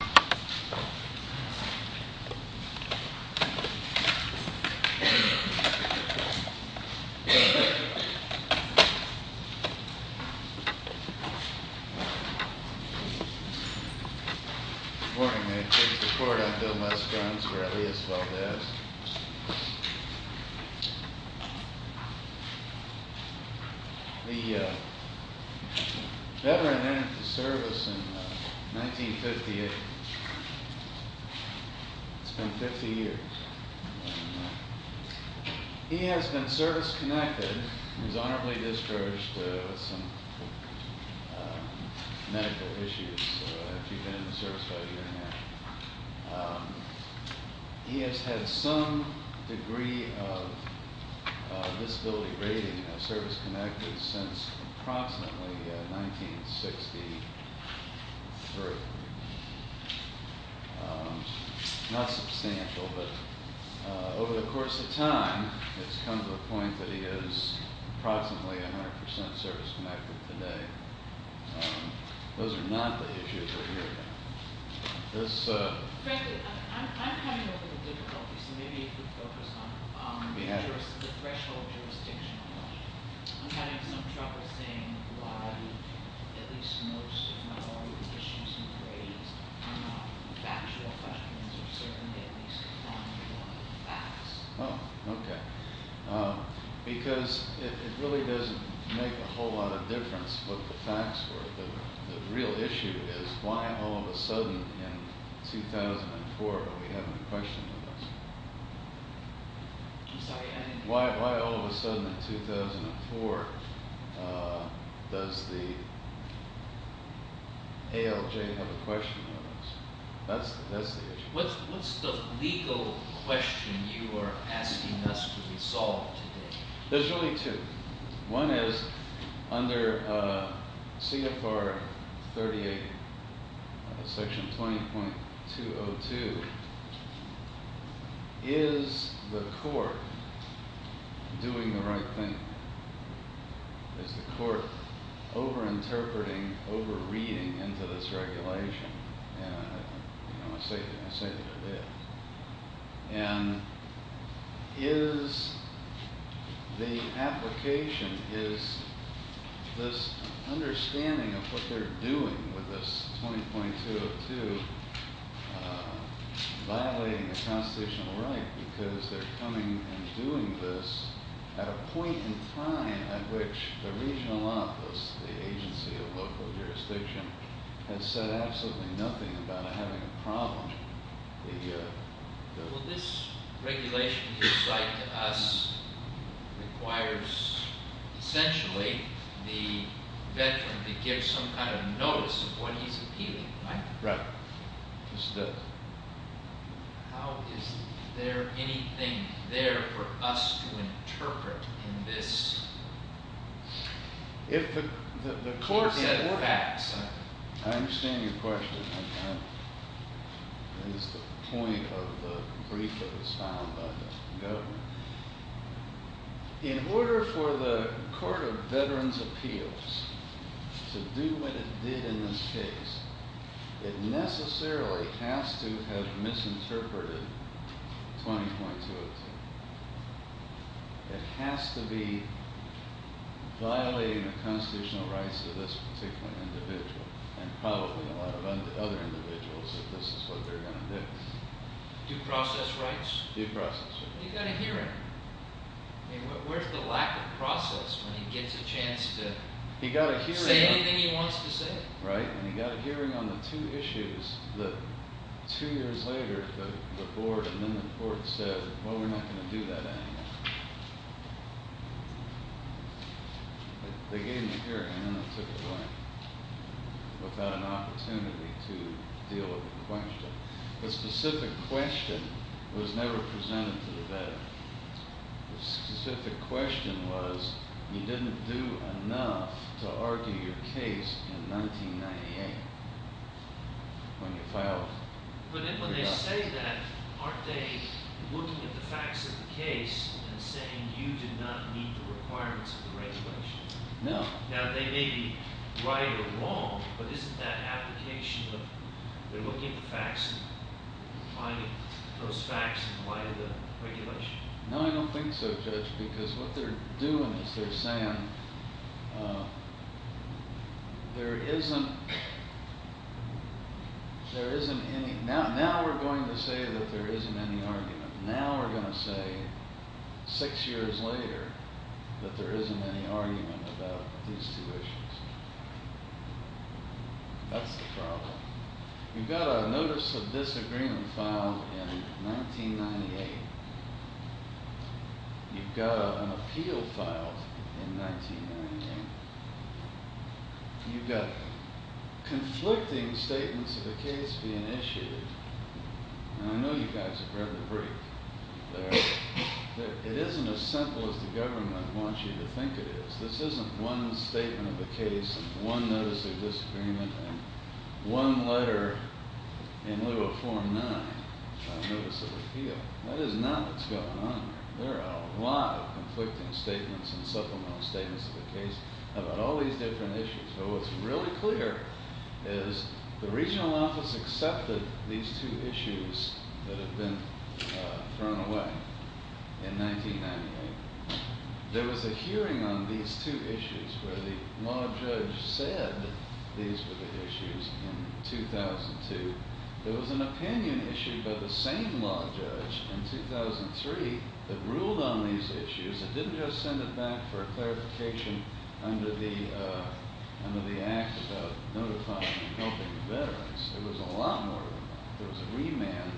Good morning, may it please the court, I'm Bill Musgranz, or Elias Valdez. The veteran entered the service in 1958, it's been 50 years. He has been service-connected, he was honorably discharged with some medical issues after he'd been in the service about a year and a half. He has had some degree of disability rating as service-connected since approximately 1963. Not substantial, but over the course of time, it's come to the point that he is approximately 100% service-connected today. Those are not the issues we're hearing about. This- Frankly, I'm having a little difficulty, so maybe you could focus on the threshold jurisdiction. I'm having some trouble seeing why at least most of my lawyer's issues and grades are not factual questions or certainly at least not facts. Oh, okay. Because it really doesn't make a whole lot of difference what the facts were. The real issue is why all of a sudden in 2004 are we having a question like this? I'm sorry, I didn't- Why all of a sudden in 2004 does the ALJ have a question like this? That's the issue. What's the legal question you are asking us to resolve today? There's really two. One is under CFR 38, section 20.202, is the court doing the right thing? Is the court over-interpreting, over-reading into this regulation? I say that I did. And is the application, is this understanding of what they're doing with this 20.202 violating the constitutional right because they're coming and doing this at a point in time at which the regional office, the agency of local jurisdiction, has said absolutely nothing about having a problem. Well, this regulation you cite to us requires essentially the veteran to give some kind of notice of what he's appealing, right? Right. This does. How is there anything there for us to interpret in this? If the court- What are the facts? I understand your question. That is the point of the brief that was found by the governor. In order for the Court of Veterans' Appeals to do what it did in this case, it necessarily has to have misinterpreted 20.202. It has to be violating the constitutional rights of this particular individual and probably a lot of other individuals if this is what they're going to do. Due process rights? Due process. He got a hearing. Where's the lack of process when he gets a chance to say anything he wants to say? Right. And he got a hearing on the two issues that two years later the board and then the court said, well, we're not going to do that anymore. They gave him a hearing and then they took it away without an opportunity to deal with the question. The specific question was never presented to the veteran. The specific question was you didn't do enough to argue your case in 1998 when you filed. But when they say that, aren't they looking at the facts of the case and saying you did not meet the requirements of the regulations? No. Now, they may be right or wrong, but isn't that application of they're looking at the facts and finding those facts in light of the regulations? No, I don't think so, Judge, because what they're doing is they're saying there isn't any. Now we're going to say that there isn't any argument. Now we're going to say six years later that there isn't any argument about these two issues. That's the problem. You've got a notice of disagreement filed in 1998. You've got an appeal filed in 1998. You've got conflicting statements of the case being issued. And I know you guys have read the brief. It isn't as simple as the government wants you to think it is. This isn't one statement of the case and one notice of disagreement and one letter in lieu of form nine, notice of appeal. That is not what's going on here. There are a lot of conflicting statements and supplemental statements of the case about all these different issues. So what's really clear is the regional office accepted these two issues that have been thrown away in 1998. There was a hearing on these two issues where the law judge said these were the issues in 2002. There was an opinion issued by the same law judge in 2003 that ruled on these issues. It didn't just send it back for clarification under the act of notifying and helping the veterans. It was a lot more than that. There was a remand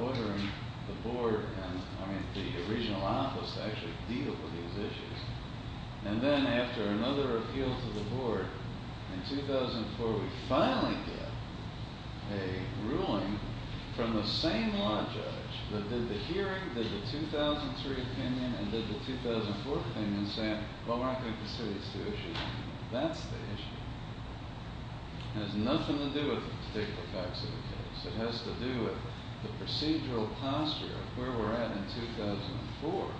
ordering the board and, I mean, the regional office to actually deal with these issues. And then after another appeal to the board in 2004, we finally get a ruling from the same law judge that did the hearing, did the 2003 opinion and did the 2004 opinion saying, well, we're not going to consider these two issues anymore. That's the issue. It has nothing to do with the particular facts of the case. It has to do with the procedural posture of where we're at in 2004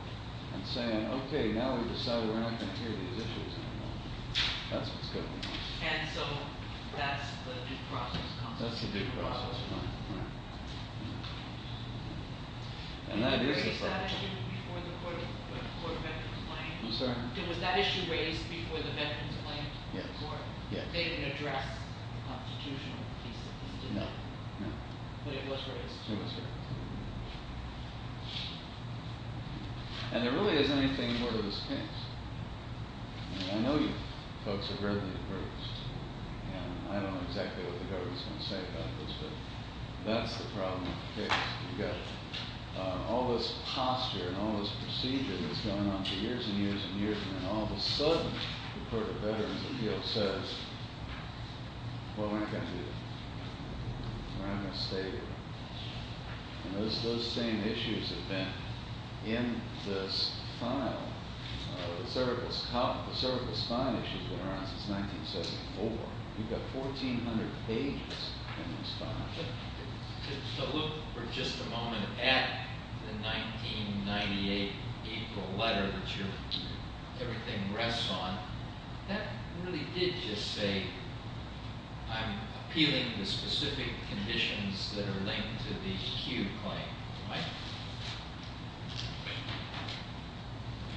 and saying, okay, now we've decided we're not going to hear these issues anymore. That's what's going on. And so that's the due process. That's the due process, right. And that is the problem. Was that issue raised before the veterans' claim? I'm sorry? Was that issue raised before the veterans' claim? Yes. Or they didn't address the constitutional piece of this? No. But it was raised? It was raised. And there really isn't anything more to this case. I know you folks have read these briefs, and I don't know exactly what the government is going to say about this, but that's the problem with the case. You've got all this posture and all this procedure that's gone on for years and years and years, and then all of a sudden the Court of Veterans Appeals says, well, we're not going to do this. We're not going to stay here. And those same issues have been in this file. The cervical spine issue has been around since 1974. We've got 1,400 pages in this file. So look for just a moment at the 1998 April letter that everything rests on. That really did just say I'm appealing the specific conditions that are linked to the acute claim, right?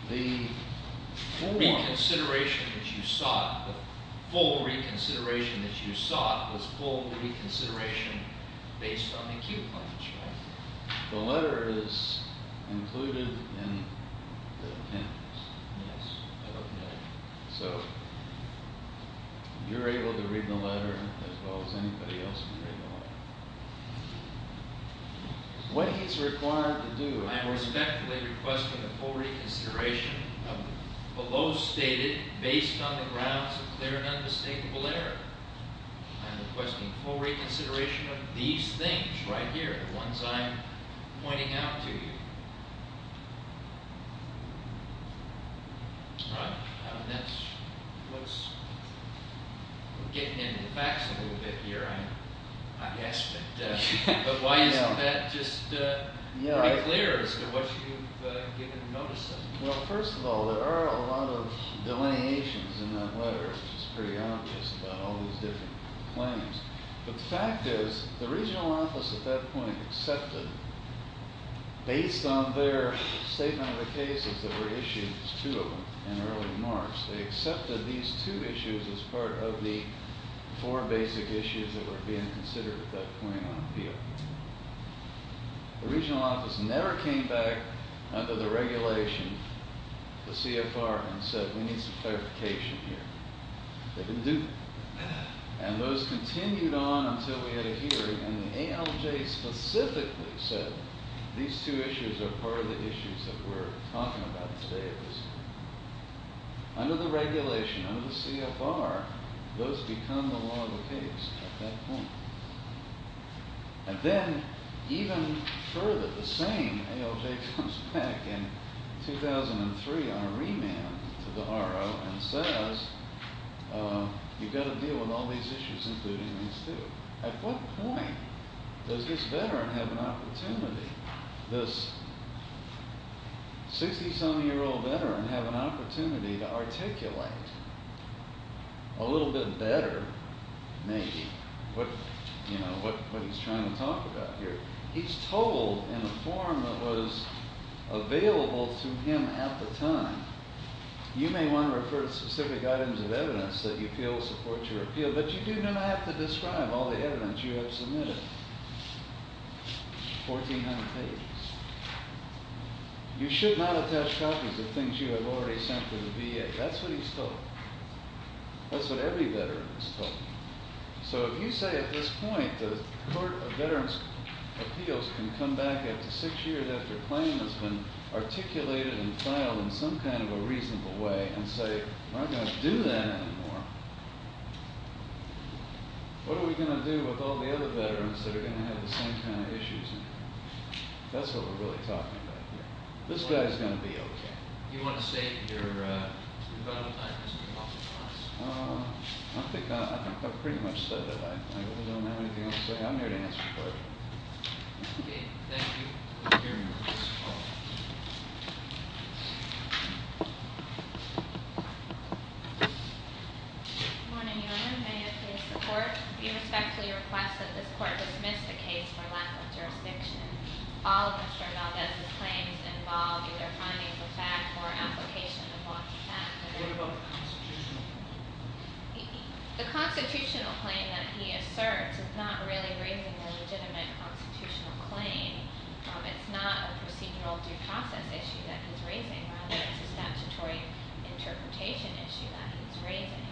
The full reconsideration that you sought was full reconsideration based on the acute claims, right? The letter is included in the appendix. Yes. I don't know. So you're able to read the letter as well as anybody else can read the letter. What he's required to do, I'm respectfully requesting a full reconsideration of the below stated based on the grounds of clear and unmistakable error. I'm requesting full reconsideration of these things right here, the ones I'm pointing out to you. All right. That's what's getting into the facts a little bit here. Yes. But why isn't that just pretty clear as to what you've given notice of? Well, first of all, there are a lot of delineations in that letter, which is pretty obvious about all these different claims. But the fact is the regional office at that point accepted, based on their statement of the cases that were issued, there's two of them in early March, they accepted these two issues as part of the four basic issues that were being considered at that point on appeal. The regional office never came back under the regulation, the CFR, and said, we need some clarification here. They didn't do that. And those continued on until we had a hearing, and the ALJ specifically said, these two issues are part of the issues that we're talking about today. Under the regulation, under the CFR, those become the law of the case at that point. And then even further, the same ALJ comes back in 2003 on a remand to the RO and says, you've got to deal with all these issues, including these two. At what point does this veteran have an opportunity, this 60-some-year-old veteran have an opportunity to articulate a little bit better, maybe, what he's trying to talk about here? He's told in a form that was available to him at the time, you may want to refer to specific items of evidence that you feel support your appeal, but you do not have to describe all the evidence you have submitted. 1,400 pages. You should not attach copies of things you have already sent to the VA. That's what he's told. That's what every veteran has told me. So if you say at this point the Court of Veterans' Appeals can come back after six years after a claim has been articulated and filed in some kind of a reasonable way and say, we're not going to do that anymore, what are we going to do with all the other veterans that are going to have the same kind of issues? That's what we're really talking about here. This guy is going to be okay. Do you want to say your final time has been authorized? I think I pretty much said that. I don't have anything else to say. I'm here to answer your question. Okay. Thank you. The hearing is closed. Good morning, Your Honor. May it please the Court. We respectfully request that this Court dismiss the case for lack of jurisdiction. All of Mr. Valdez's claims involve either finding the fact or application of law to pass. What about the constitutional claim? The constitutional claim that he asserts is not really raising a legitimate constitutional claim. It's not a procedural due process issue that he's raising. Rather, it's a statutory interpretation issue that he's raising.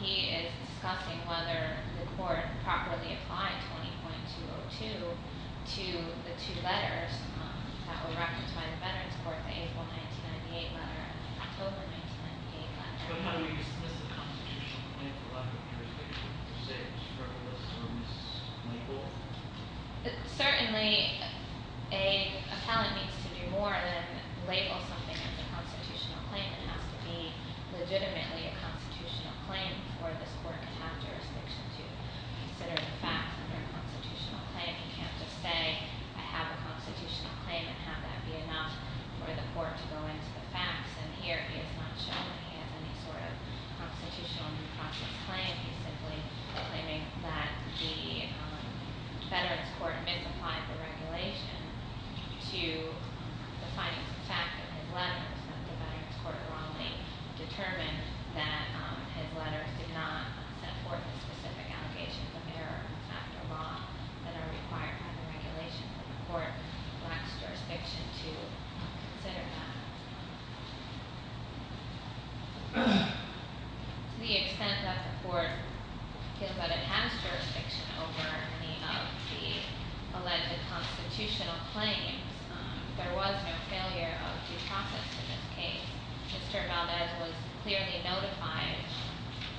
He is discussing whether the Court properly applied 20.202 to the two letters that were recognized by the Veterans Court, the April 1998 letter and the October 1998 letter. But how do we dismiss a constitutional claim for lack of jurisdiction? Do you say it was frivolous or mislabeled? Certainly, an appellant needs to do more than label something as a constitutional claim. It has to be legitimately a constitutional claim before this Court can have jurisdiction to consider the fact. Under a constitutional claim, you can't just say, I have a constitutional claim and have that be enough for the Court to go into the facts. And here, he has not shown that he has any sort of constitutional due process claim. He's simply claiming that the Veterans Court misapplied the regulation to the findings of fact in his letters. The Veterans Court wrongly determined that his letters did not set forth the specific allegations of error after law that are required by the regulations of the Court. And therefore, lacks jurisdiction to consider that. To the extent that the Court feels that it has jurisdiction over any of the alleged constitutional claims, there was no failure of due process in this case. Mr. Valdez was clearly notified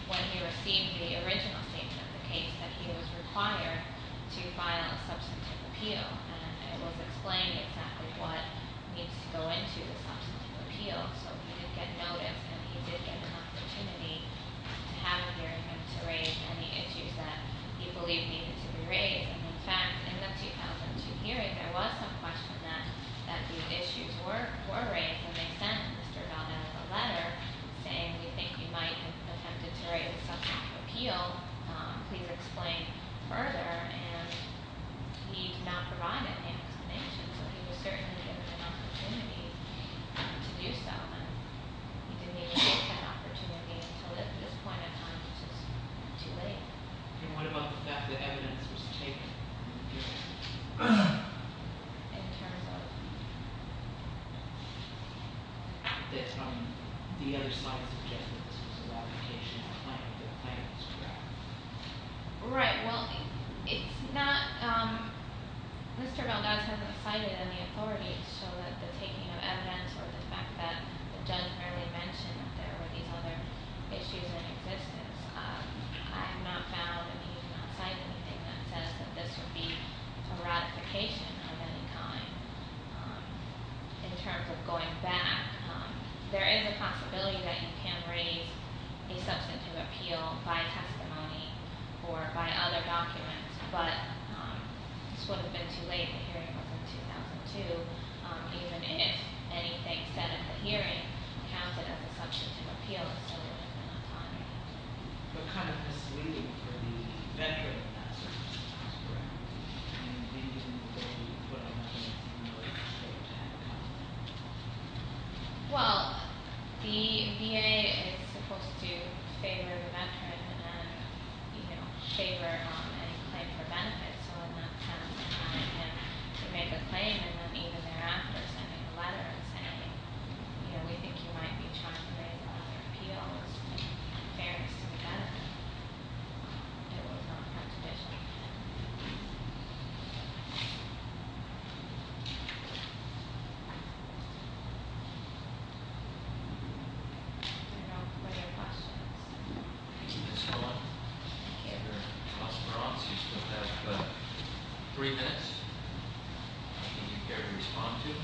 when he received the original statement of the case that he was required to file a substantive appeal. And it was explained exactly what needs to go into the substantive appeal. So he did get notice and he did get an opportunity to have a hearing and to raise any issues that he believed needed to be raised. And in fact, in the 2002 hearing, there was some question that these issues were raised. And they sent Mr. Valdez a letter saying, we think you might have attempted to raise a substantive appeal. Please explain further. And he did not provide an explanation. So he was certainly given an opportunity to do so. And he didn't even get that opportunity until at this point in time, which is too late. And what about the fact that evidence was taken in the hearing? In terms of? The other side suggested this was a ramification of the claims, correct? Right, well, it's not, Mr. Valdez hasn't cited any authority to show that the taking of evidence, or the fact that the judge barely mentioned that there were these other issues in existence. I have not found, and he did not cite anything that says that this would be a ratification of any kind. In terms of going back, there is a possibility that you can raise a substantive appeal by testimony. Or by other documents, but this would have been too late. The hearing was in 2002. Even if anything said at the hearing counted as a substantive appeal, it still wouldn't have been on time. But kind of misleading for the veteran of that circumstance, correct? I mean, they didn't go to put on evidence in order for them to have a comment. Well, the VA is supposed to favor the veteran and favor any claim for benefit. So in that sense, they made the claim, and then even thereafter, sending a letter saying, we think you might be charged with appeals in fairness to the veteran. It was not a contradiction. I don't know if there are any questions. Ms. Holland? I can't hear. Mr. Ross, you still have three minutes. I think you can respond to it.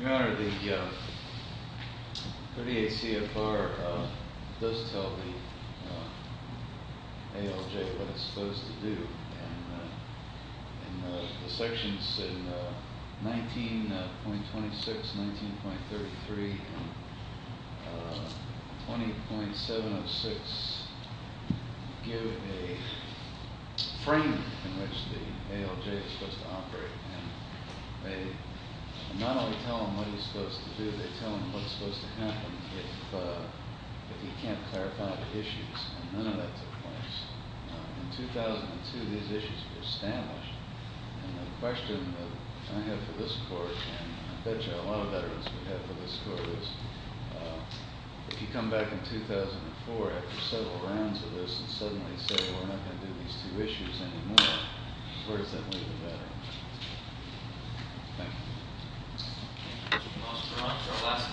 Your Honor, the 38 CFR does tell the ALJ what it's supposed to do. And the sections in 19.26, 19.33, and 20.706 give a frame in which the ALJ is supposed to operate. And they not only tell him what he's supposed to do, they tell him what's supposed to happen if he can't clarify the issues. And none of that took place. In 2002, these issues were established. And the question that I have for this Court, and I bet you a lot of veterans we have for this Court, is if you come back in 2004 after several rounds of this and suddenly say we're not going to do these two issues anymore, where does that leave the veteran? Thank you. Thank you, Mr. Ross.